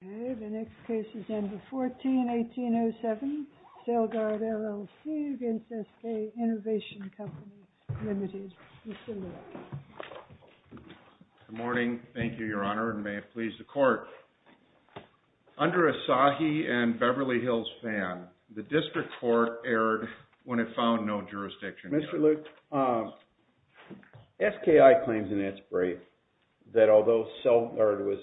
Good morning. Thank you, Your Honor, and may it please the Court. Under Asahi and Beverly Hills Fan, the District Court erred when it found no jurisdiction. Mr. Luke, SKI claims in its discovery that although SELGARD was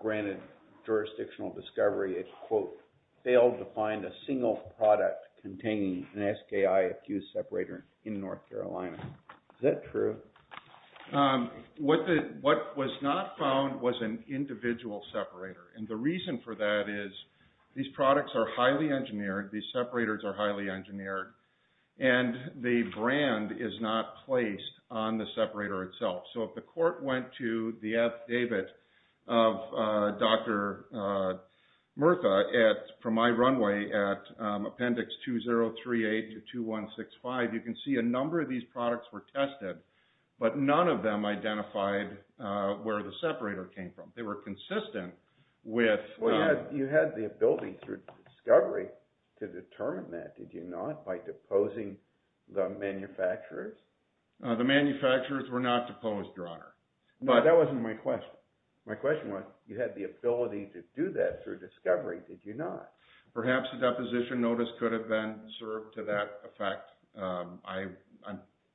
granted jurisdictional discovery, it, quote, failed to find a single product containing an SKI-accused separator in North Carolina. Is that true? What was not found was an individual separator, and the reason for that is these products are highly engineered, these separators are highly engineered, and the brand is not placed on the separator itself. So if the Court went to the affidavit of Dr. Murtha from my runway at Appendix 2038 to 2165, you can see a number of these products were tested, but none of them identified where the separator came from. They were consistent with... Well, you had the ability through discovery to determine that, did you not, by deposing the manufacturers? The manufacturers were not deposed, Your Honor. No, that wasn't my question. My question was, you had the ability to do that through discovery, did you not? Perhaps a deposition notice could have been served to that effect. I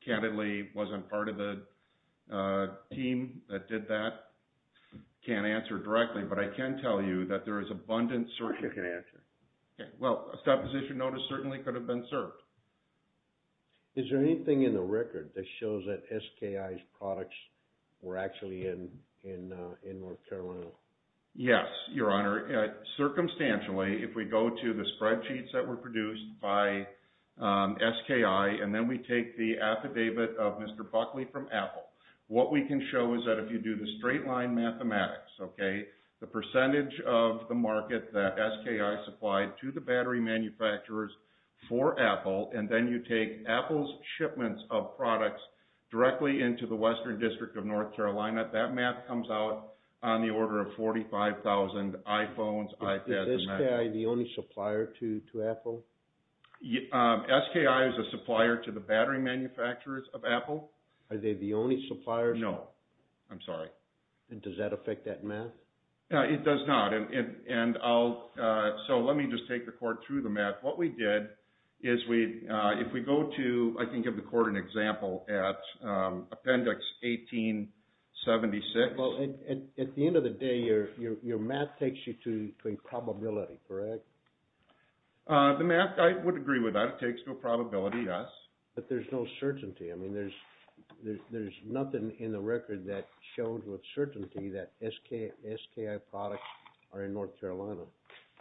candidly wasn't part of the team that did that. I can't answer directly, but I can tell you that there is abundant... I'm sure you can answer. Okay. Well, a deposition notice certainly could have been served. Is there anything in the record that shows that SKI's products were actually in North Carolina? Yes, Your Honor. Circumstantially, if we go to the spreadsheets that were produced by SKI, and then we take the affidavit of Mr. Buckley from Apple, what we can show is that if you do the straight line mathematics, okay, the percentage of the market that SKI supplied to the battery manufacturers for Apple, and then you take Apple's shipments of products directly into the Western District of North Carolina, that math comes out on the order of 45,000 iPhones, iPads, and Macs. Is SKI the only supplier to Apple? SKI is a supplier to the battery manufacturers of Apple. Are they the only suppliers? No. I'm sorry. And does that affect that math? It does not. So let me just take the court through the math. What we did is if we go to, I can give the court an example at Appendix 1876. Well, at the end of the day, your math takes you to a probability, correct? The math, I would agree with that. It takes to a probability, yes. But there's no certainty. There's nothing in the record that shows with certainty that SKI products are in North Carolina.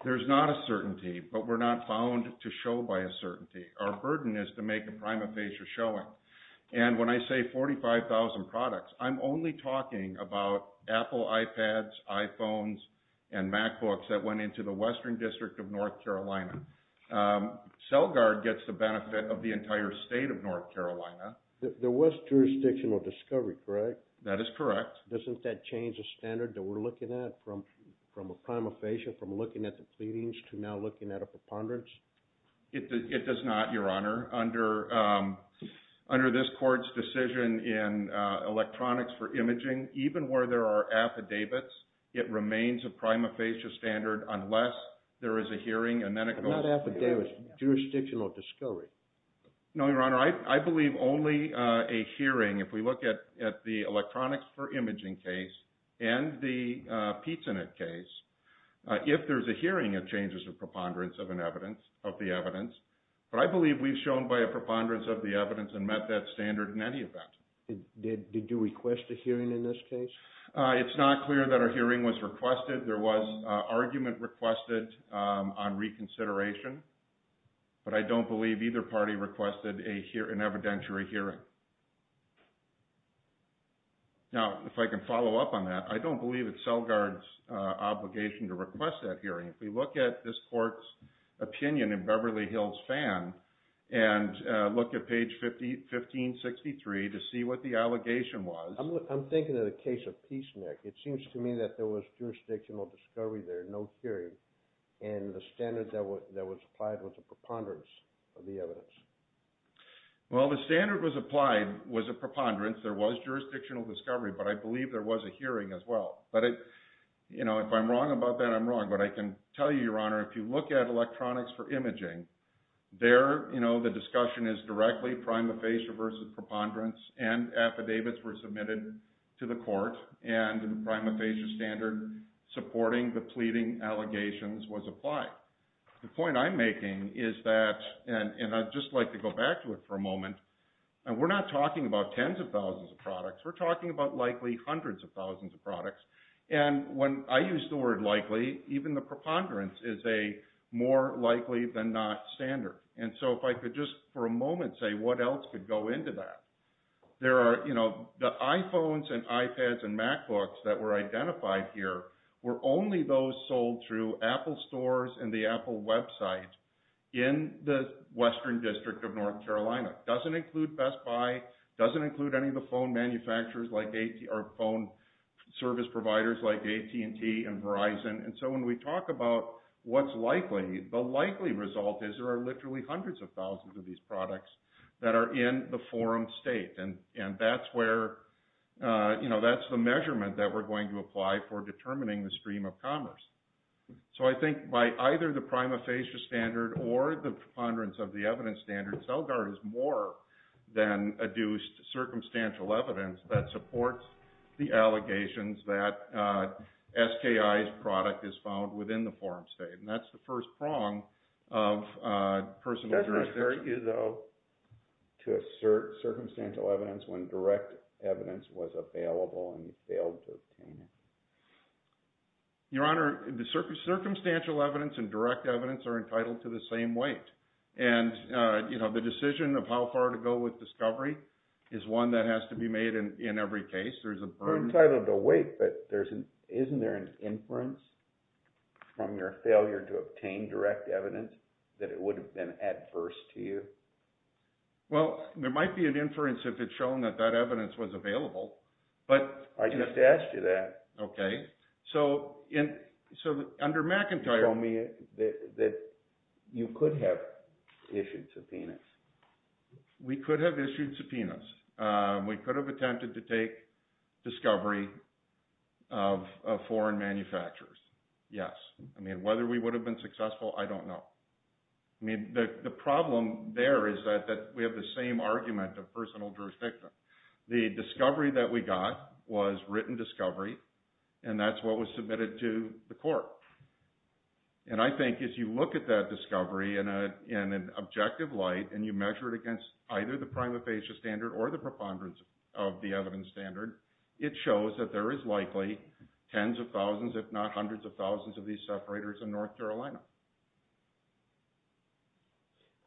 There's not a certainty, but we're not bound to show by a certainty. Our burden is to make a prima facie showing. And when I say 45,000 products, I'm only talking about Apple iPads, iPhones, and MacBooks that went into the Western District of North Carolina. CellGuard gets the benefit of the entire state of North Carolina. There was jurisdictional discovery, correct? That is correct. Doesn't that change the standard that we're looking at from a prima facie, from looking at the pleadings to now looking at a preponderance? It does not, your honor. Under this court's decision in electronics for imaging, even where there are affidavits, it remains a prima facie standard unless there is a hearing, and then it goes... Not affidavits. Jurisdictional discovery. No, your honor. I believe only a hearing, if we look at the electronics for imaging case and the PizzaNet case, if there's a hearing, it changes the preponderance of the evidence. But I believe we've shown by a preponderance of the evidence and met that standard in any event. Did you request a hearing in this case? It's not clear that a hearing was requested. There was an argument requested on reconsideration, but I don't believe either party requested an evidentiary hearing. Now, if I can follow up on that, I don't believe it's CellGuard's obligation to request that hearing. If we look at this court's opinion in Beverly Hills Fan and look at page 1563 to see what the allegation was... I'm thinking of the case of Peace, Nick. It seems to me that there was jurisdictional discovery there, no hearing, and the standard that was applied was a preponderance of the evidence. Well, the standard was applied was a preponderance. There was jurisdictional discovery, but I believe there was a hearing as well. But if I'm wrong about that, I'm wrong. But I can tell you, your honor, if you look at electronics for imaging, there the discussion is directly prima facie versus preponderance, and affidavits were submitted to the court, and the prima facie standard supporting the pleading allegations was applied. The point I'm making is that, and I'd just like to go back to it for a moment, and we're not talking about tens of thousands of products. We're talking about likely hundreds of thousands of products. And when I use the word likely, even the preponderance is a more likely than not standard. And so if I could just for a moment say what else could go into that. The iPhones and iPads and MacBooks that were identified here were only those sold through Apple stores and the Apple website in the Western District of North Carolina. Doesn't include Best Buy, doesn't include any of the phone manufacturers like phone service providers like AT&T and Verizon. And so when we talk about what's likely, the likely result is there are literally hundreds of thousands of these products that are in the forum state. And that's where, that's the measurement that we're going to apply for determining the stream of commerce. So I think by either the prima facie standard or the preponderance of the evidence standard, Celgard is more than adduced circumstantial evidence that supports the allegations that SKI's product is found within the forum state. And that's the first prong of personal jurisdiction. Are you though to assert circumstantial evidence when direct evidence was available and you failed to obtain it? Your Honor, the circumstantial evidence and direct evidence are entitled to the same weight. And the decision of how far to go with discovery is one that has to be made in every case. There's a burden. Entitled to weight, but isn't there an inference from your failure to obtain direct evidence that it would have been adverse to you? Well, there might be an inference if it's shown that that evidence was available, but... I just asked you that. Okay. So under McIntyre... You told me that you could have issued subpoenas. We could have issued subpoenas. We could have attempted to take discovery of foreign manufacturers. Yes. I mean, whether we would have been successful, I don't know. I mean, the problem there is that we have the same argument of personal jurisdiction. The discovery that we got was written discovery and that's what was submitted to the court. And I think if you look at that discovery in an objective light and you measure it against either the prima facie standard or the preponderance of the evidence standard, it shows that there is likely tens of thousands, if not hundreds of thousands of these separators in North Carolina.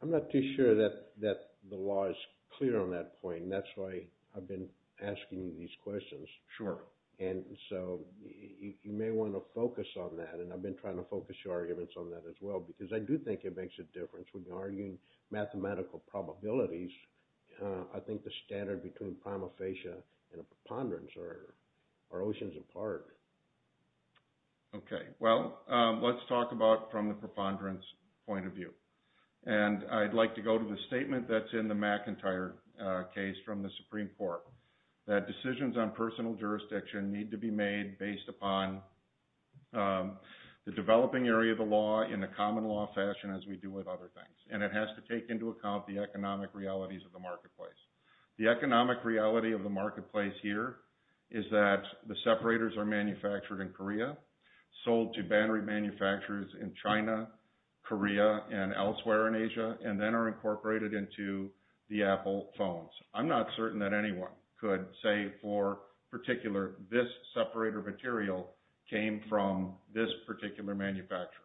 I'm not too sure that the law is clear on that point. That's why I've been asking you these questions. Sure. And so you may want to focus on that. And I've been trying to focus your arguments on that as well, because I do think it makes a difference when you're arguing mathematical probabilities. I think the standard between prima facie and a preponderance are oceans apart. Okay. Well, let's talk about from the preponderance point of view. And I'd like to go to the statement that's in the McIntyre case from the Supreme Court that decisions on personal jurisdiction need to be made based upon the developing area of the law in a common law fashion as we do with other things. And it has to take into account the economic realities of the marketplace. The economic reality of the marketplace here is that the separators are manufactured in Korea, sold to battery manufacturers in China, Korea, and elsewhere in Asia, and then are incorporated into the Apple phones. I'm not certain that anyone could say for particular this separator material came from this particular manufacturer.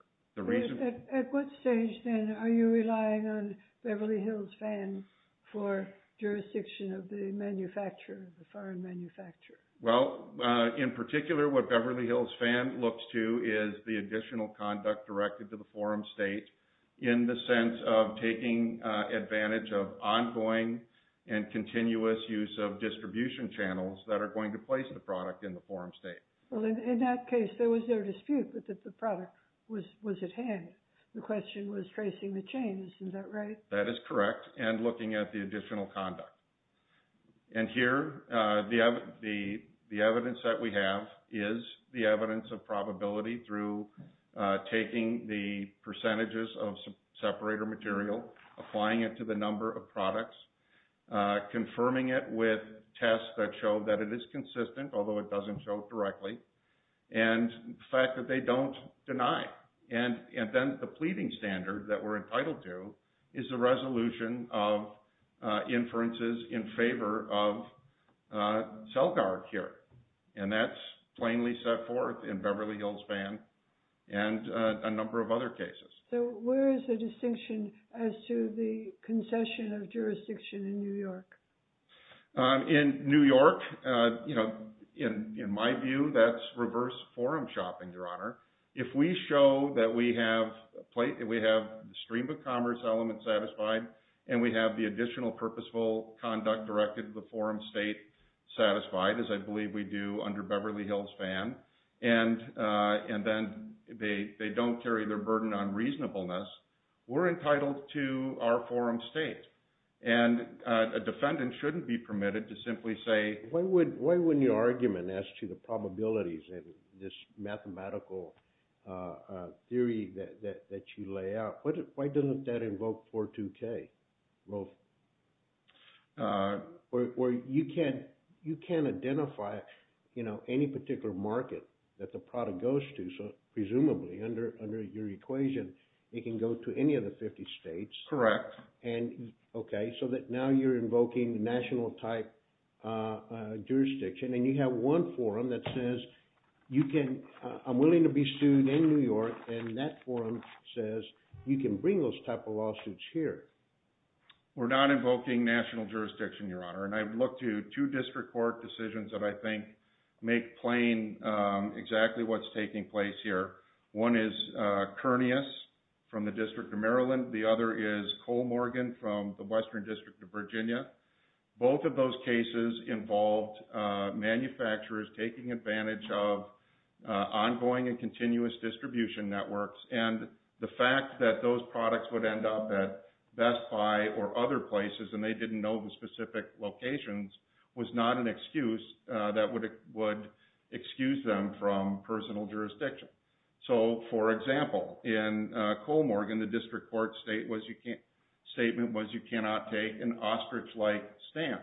At what stage, then, are you relying on Beverly Hills Fan for jurisdiction of the manufacturer, the foreign manufacturer? Well, in particular, what Beverly Hills Fan looks to is the additional conduct directed to the forum state in the sense of taking advantage of ongoing and continuous use of distribution channels that are going to place the product in the forum state. Well, in that case, there was no dispute that the product was at hand. The question was tracing the chains. Is that right? That is correct. And looking at the additional conduct. And here, the evidence that we have is the evidence of probability through taking the percentages of separator material, applying it to the number of products, confirming it with tests that show that it is consistent, although it doesn't show directly, and the fact that they don't deny. And then the pleading standard that we're entitled to is the resolution of inferences in favor of cell guard here. And that's plainly set forth in Beverly Hills Fan and a number of other cases. So where is the distinction as to the concession of jurisdiction in New York? In New York, in my view, that's reverse forum shopping, Your Honor. If we show that we have the stream of commerce element satisfied and we have the additional purposeful conduct directed to the forum state satisfied, as I believe we do under Beverly Hills Fan, and then they don't carry their burden on reasonableness, we're entitled to our forum state. And a defendant shouldn't be permitted to simply say... Why wouldn't your argument as to the probabilities and this mathematical theory that you lay out, why doesn't that invoke 42K? Or you can't identify any particular market that the product goes to. So presumably under your equation, it can go to any of the 50 states. Correct. And okay, so that now you're invoking national type jurisdiction and you have one forum that says, you can, I'm willing to be sued in New York and that forum says, you can bring those type of lawsuits here. We're not invoking national jurisdiction, Your Honor. And I've looked to two district court decisions that I think make plain exactly what's taking place here. One is Kernias from the District of Maryland. The other is Cole Morgan from the Western District of Virginia. Both of those cases involved manufacturers taking advantage of ongoing and continuous distribution networks. And the fact that those products would end up at Best Buy or other places and they didn't know the specific locations was not an excuse that would excuse them from personal jurisdiction. So for example, in Cole Morgan, the district court statement was, you cannot take an ostrich-like stance.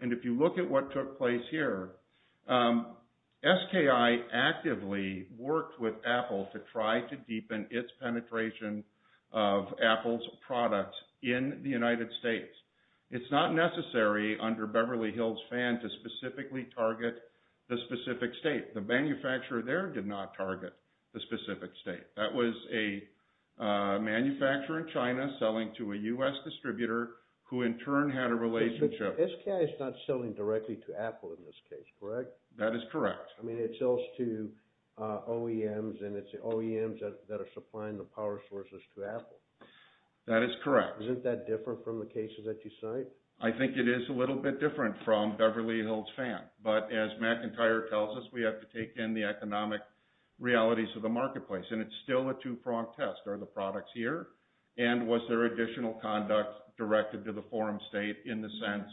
And if you look at what took place here, SKI actively worked with Apple to try to deepen its penetration of Apple's products in the United States. It's not necessary under Beverly Hills Fan to specifically target the specific state. The manufacturer there did not target the specific state. That was a manufacturer in China selling to a U.S. distributor who in turn had a relationship. SKI is not selling directly to Apple in this case, correct? That is correct. I mean, it sells to OEMs and it's the OEMs that are supplying the power sources to Apple. That is correct. Isn't that different from the cases that you cite? I think it is a little bit different from Beverly Hills Fan. But as McIntyre tells us, we have to take in the economic realities of the marketplace. And it's still a two-prong test. Are the products here? And was there additional conduct directed to the forum state in the sense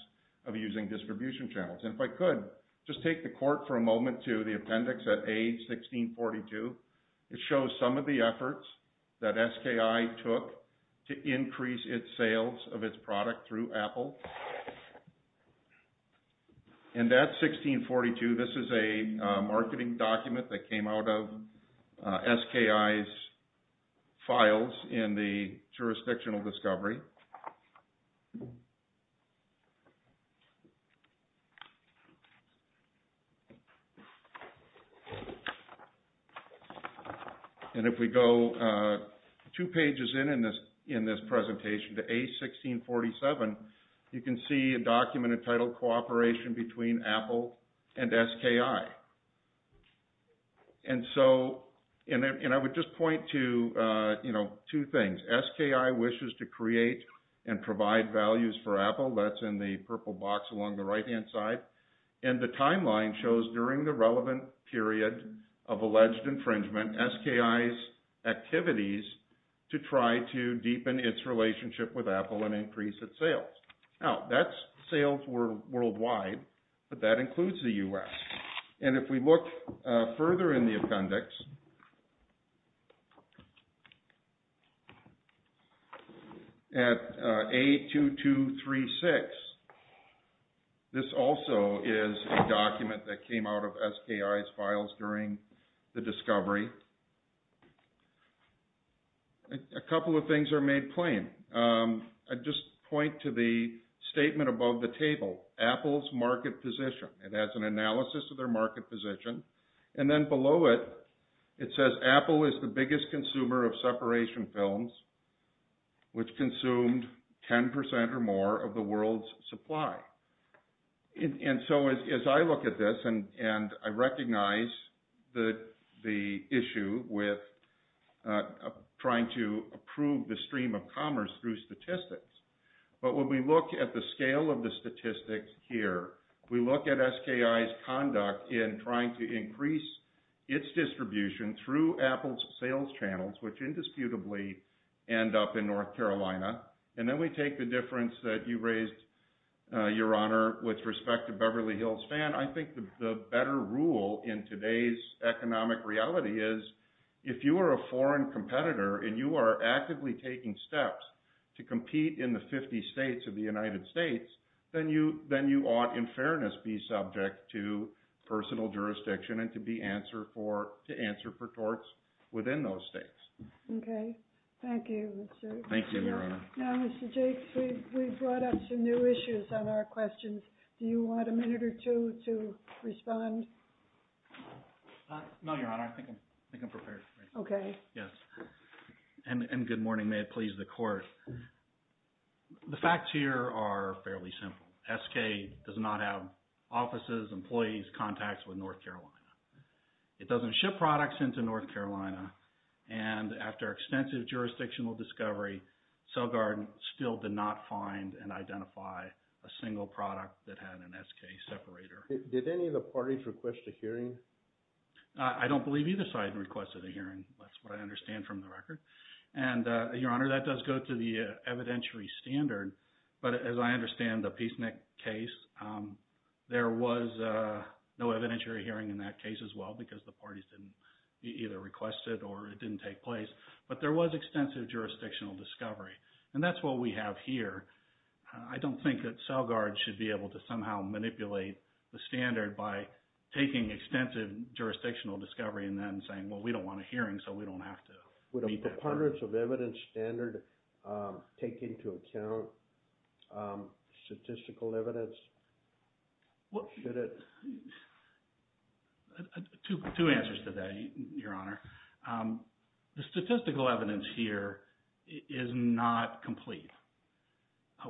of using distribution channels? And if I could, just take the court for a moment to the appendix at A1642. It shows some of the efforts that SKI took to increase its sales of its product through Apple. And that 1642, this is a marketing document that came out of SKI's files in the jurisdictional discovery. And if we go two pages in this presentation to A1647, you can see a document entitled Cooperation Between Apple and SKI. And so, and I would just point to, you know, two things. SKI wishes to create and provide values for Apple. That's in the purple box along the right-hand side. And the timeline shows during the relevant period of alleged infringement, SKI's activities to try to deepen its relationship with Apple and increase its sales. Now, that's sales worldwide, but that includes the US. And if we look further in the appendix, at A2236, this also is a document that came out of SKI's files during the discovery. A couple of things are made plain. I just point to the statement above the table, Apple's market position. It has an analysis of their market position. And then below it, it says Apple is the biggest consumer of separation films, which consumed 10% or more of the world's supply. And so, as I look at this, and I recognize the issue with trying to approve the stream of commerce through statistics. But when we look at the scale of the statistics here, we look at SKI's conduct in trying to increase its distribution through Apple's sales channels, which indisputably end up in North Carolina. And then we take the difference that you raised, Your Honor, with respect to Beverly Hills Fan. I think the better rule in today's economic reality is if you are a foreign competitor and you are actively taking steps to compete in the 50 states of the United States, then you ought, in fairness, be subject to personal jurisdiction and to answer for torts within those states. Okay. Thank you. Thank you, Your Honor. Now, Mr. Jakes, we brought up some new issues on our questions. Do you want a minute or two to respond? No, Your Honor. I think I'm prepared. Okay. Yes. And good morning. May it please the Court. The facts here are fairly simple. SK does not have offices, employees, contacts with North Carolina. It doesn't ship products into North Carolina. And after extensive jurisdictional discovery, CellGuard still did not find and identify a single product that had an SK separator. Did any of the parties request a hearing? I don't believe either side requested a hearing. That's what I understand from the record. And, Your Honor, that does go to the evidentiary standard. But as I understand the Peaceneck case, there was no evidentiary hearing in that case as well because the parties either requested or it didn't take place. But there was extensive jurisdictional discovery. And that's what we have here. I don't think that CellGuard should be able to somehow manipulate the standard by taking extensive jurisdictional discovery and then saying, well, we don't want a hearing so we don't have to. Would a preponderance of evidence standard take into account statistical evidence? Well, two answers to that, Your Honor. The statistical evidence here is not complete.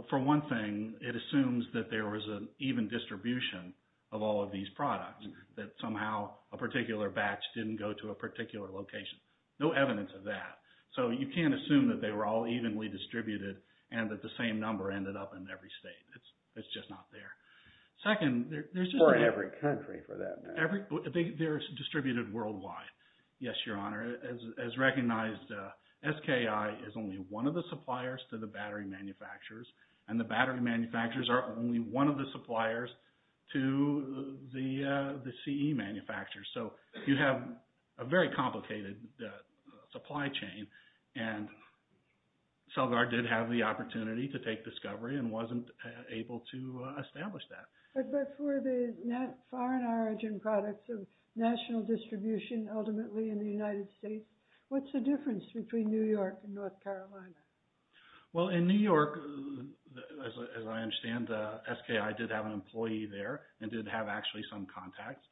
For one thing, it assumes that there was an even distribution of all of these products that somehow a particular batch didn't go to a particular location. No evidence of that. So you can't assume that they were all evenly distributed and that the same number ended up in every state. It's just not there. Second, there's just... For every country for that matter. They're distributed worldwide. Yes, Your Honor. As recognized, SKI is only one of the suppliers to the battery manufacturers. And the battery manufacturers are only one of the suppliers to the CE manufacturers. So you have a very complicated supply chain. And CellGuard did have the opportunity to take discovery and wasn't able to establish that. But for the foreign origin products of national distribution, ultimately in the United States, what's the difference between New York and North Carolina? Well, in New York, as I understand, SKI did have an employee there and did have actually some contacts.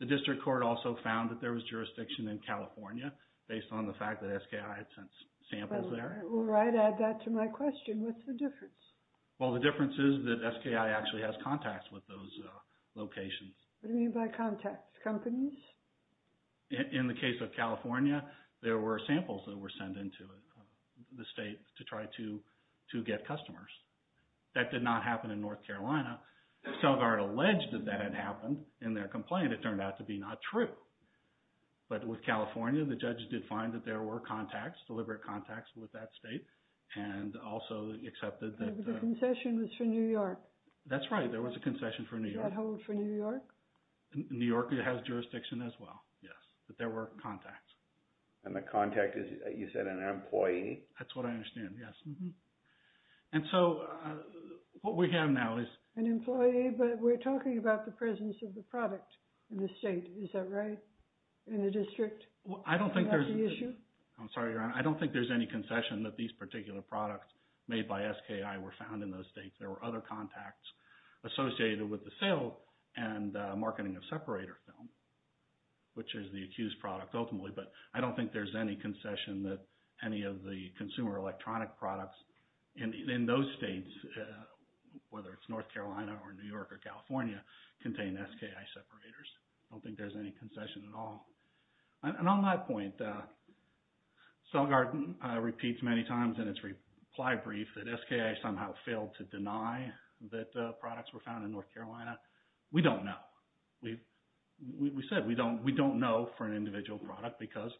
The district court also found that there was jurisdiction in California based on the fact that SKI had sent samples there. Well, I'd add that to my question. What's the difference? Well, the difference is that SKI actually has contacts with those locations. What do you mean by contacts? Companies? In the case of California, there were samples that were sent into the state to try to get customers. That did not happen in North Carolina. CellGuard alleged that that had happened in their complaint. It turned out to be not true. But with California, the judges did find that there were contacts, deliberate contacts with that state and also accepted that... The concession was for New York. That's right. There was a concession for New York. Is that held for New York? New York has jurisdiction as well. Yes, but there were contacts. And the contact is, you said, an employee? That's what I understand. Yes. And so what we have now is... An employee, but we're talking about the presence of the product in the state. Is that right? In the district? I don't think there's... Is that the issue? I'm sorry, Your Honor. I don't think there's any concession that these particular products made by SKI were found in those states. There were other contacts associated with the sale and marketing of separator film, which is the accused product ultimately. But I don't think there's any concession that any of the consumer electronic products in those states, whether it's North Carolina or New York or California, contain SKI separators. I don't think there's any concession at all. And on that point, Selgar repeats many times in its reply brief that SKI somehow failed to deny that products were found in North Carolina. We don't know. We said we don't know for an individual product because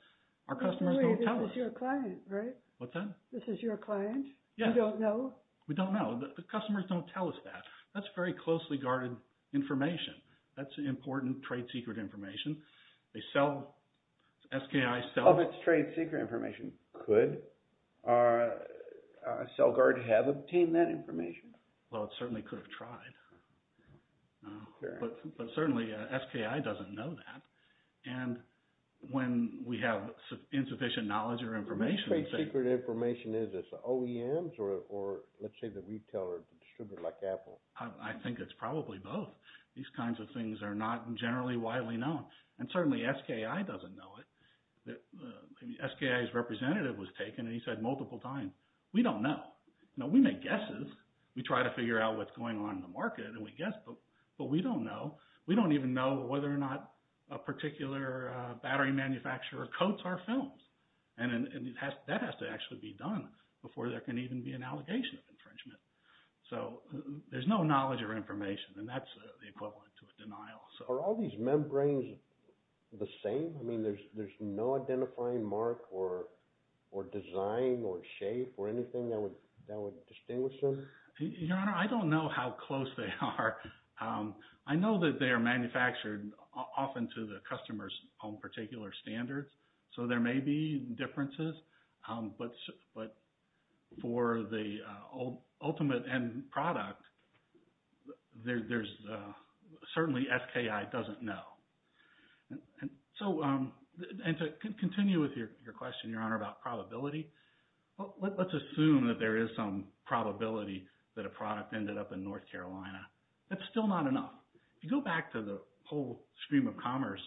our customers don't tell us. This is your client, right? What's that? This is your client? Yeah. You don't know? We don't know. The customers don't tell us that. That's very closely guarded information. That's important trade secret information. They sell... SKI sells... Of its trade secret information could Selgar have obtained that information? Well, it certainly could have tried. But certainly SKI doesn't know that. And when we have insufficient knowledge or information... What trade secret information is this? OEMs or let's say the retailer distributor like Apple? I think it's probably both. These kinds of things are not generally widely known. And certainly SKI doesn't know it. The SKI's representative was taken and he said multiple times, we don't know. We make guesses. We try to figure out what's going on in the market and we guess, but we don't know. We don't even know whether or not a particular battery manufacturer coats our films. And that has to actually be done before there can even be an allegation of infringement. So there's no knowledge or information and that's the equivalent to a denial. Are all these membranes the same? I mean, there's no identifying mark or design or shape or anything that would distinguish them? Your Honor, I don't know how close they are. I know that they are manufactured often to the customer's own particular standards. So there may be differences, but for the ultimate end product, certainly SKI doesn't know. And to continue with your question, Your Honor, about probability, let's assume that there is some probability that a product ended up in North Carolina. That's still not enough. If you go back to the whole stream of commerce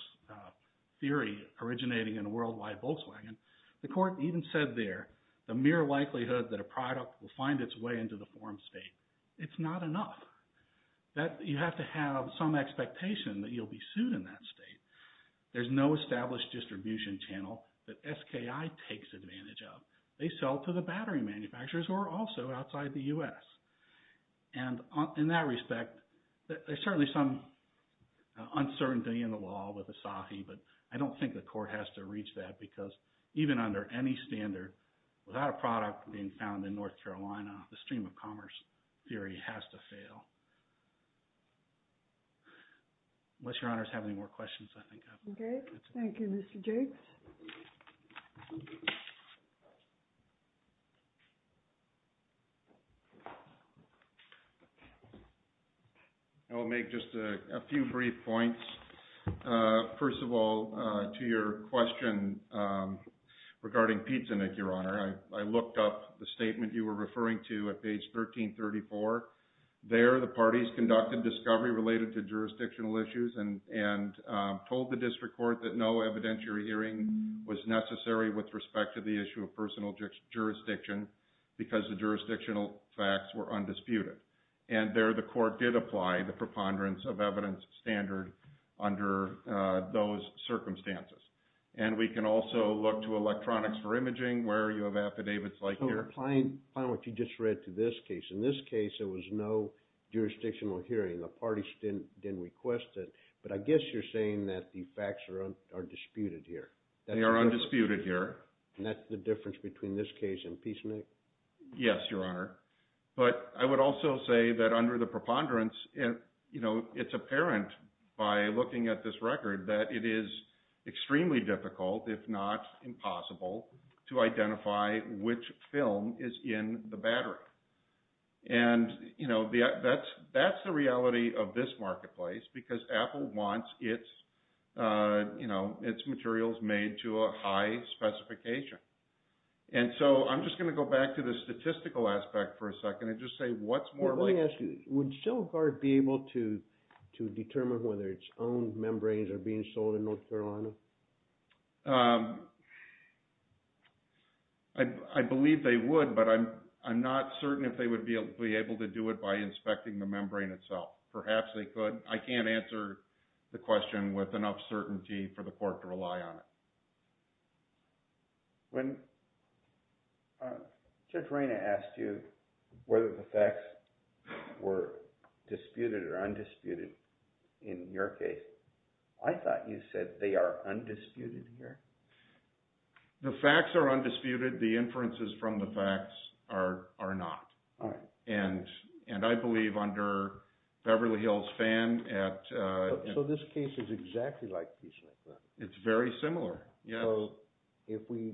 theory originating in a worldwide Volkswagen, the court even said there, the mere likelihood that a product will find its way into the form state, it's not enough. You have to have some expectation that you'll be sued in that state. There's no established distribution channel that SKI takes advantage of. They sell to the battery manufacturers who are also outside the US. And in that respect, there's certainly some uncertainty in the law with Asahi, but I don't think the court has to reach that because even under any standard, without a product being found in North Carolina, the stream of commerce theory has to fail. Unless Your Honor has any more questions, I think. Okay. Thank you, Mr. Jakes. I'll make just a few brief points. First of all, to your question regarding Pizzanick, Your Honor, I looked up the statement you were referring to at page 1334. There, the parties conducted discovery related to jurisdictional issues and told the district court that no evidentiary hearing was necessary with respect to the issue of personal jurisdiction because the jurisdictional facts were undisputed. And there, the court did apply the preponderance of evidence standard under those circumstances. And we can also look to electronics for imaging where you have affidavits like here. So applying what you just read to this case, in this case, there was no jurisdictional hearing. The parties didn't request it. But I guess you're saying that the facts are disputed here. They are undisputed here. And that's the difference between this case and Pizzanick? Yes, Your Honor. But I would also say that under the preponderance, it's apparent by looking at this record that it is extremely difficult, if not impossible, to identify which film is in the battery. And that's the reality of this marketplace because Apple wants its materials made to a high specification. And so I'm just going to go back to the statistical aspect for a second and just say what's more likely... Let me ask you, would Silverguard be able to determine whether its own membranes are being sold in North Carolina? I believe they would, but I'm not certain if they would be able to do it by inspecting the membrane itself. Perhaps they could. I can't answer the question with enough certainty for the court to rely on it. Judge Rayna asked you whether the facts were disputed or undisputed in your case. I thought you said they are undisputed here. The facts are undisputed. The inferences from the facts are not. And I believe under Beverly Hills Fan at... So this case is exactly like Piecznik, then? It's very similar, yes. So if we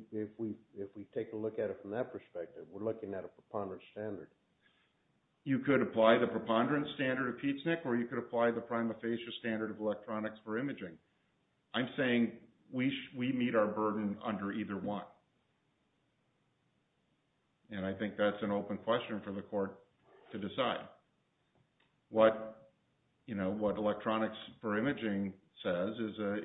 take a look at it from that perspective, we're looking at a preponderance standard. You could apply the preponderance standard of Piecznik or you could apply the prima facie standard of electronics for imaging. I'm saying we meet our burden under either one. And I think that's an open question for the court to decide. What, you know, what electronics for imaging says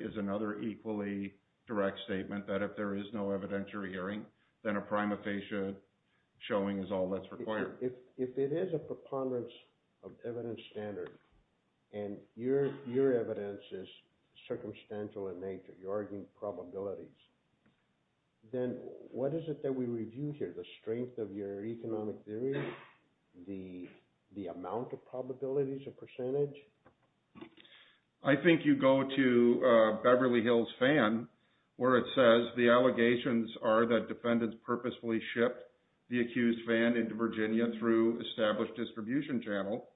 is another equally direct statement that if there is no evidentiary hearing, then a prima facie showing is all that's required. If it is a preponderance of evidence standard and your evidence is circumstantial in nature, you're arguing probabilities, then what is it that we review here? The strength of your economic theory, the amount of probabilities, the percentage? I think you go to Beverly Hills Fan where it says the allegations are that defendants purposefully shipped the accused van into Virginia through established distribution channel.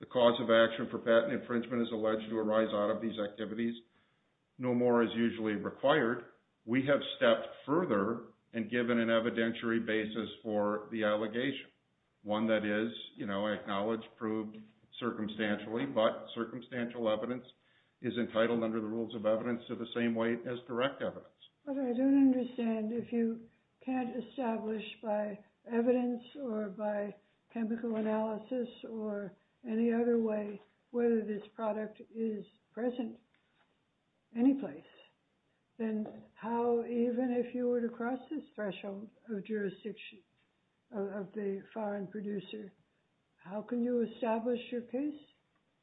The cause of action for patent infringement is alleged to arise out of these activities. No more is usually required. We have stepped further and given an evidentiary basis for the allegation. One that is, you know, I acknowledge proved circumstantially, but circumstantial evidence is entitled under the rules of evidence to the same weight as direct evidence. But I don't understand if you can't establish by evidence or by chemical analysis or any other way, whether this product is present any place, then how, even if you were to cross this threshold of jurisdiction of the foreign producer, how can you establish your case?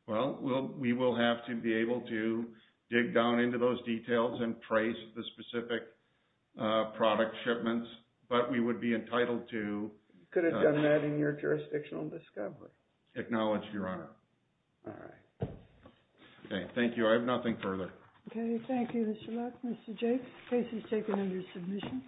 Well, we will have to be able to dig down into those details and trace the specific product shipments, but we would be entitled to. You could have done that in your jurisdictional discovery. Acknowledged, Your Honor. All right. Okay, thank you. I have nothing further. Okay, thank you, Mr. Luck, Mr. Jake. Case is taken under submission.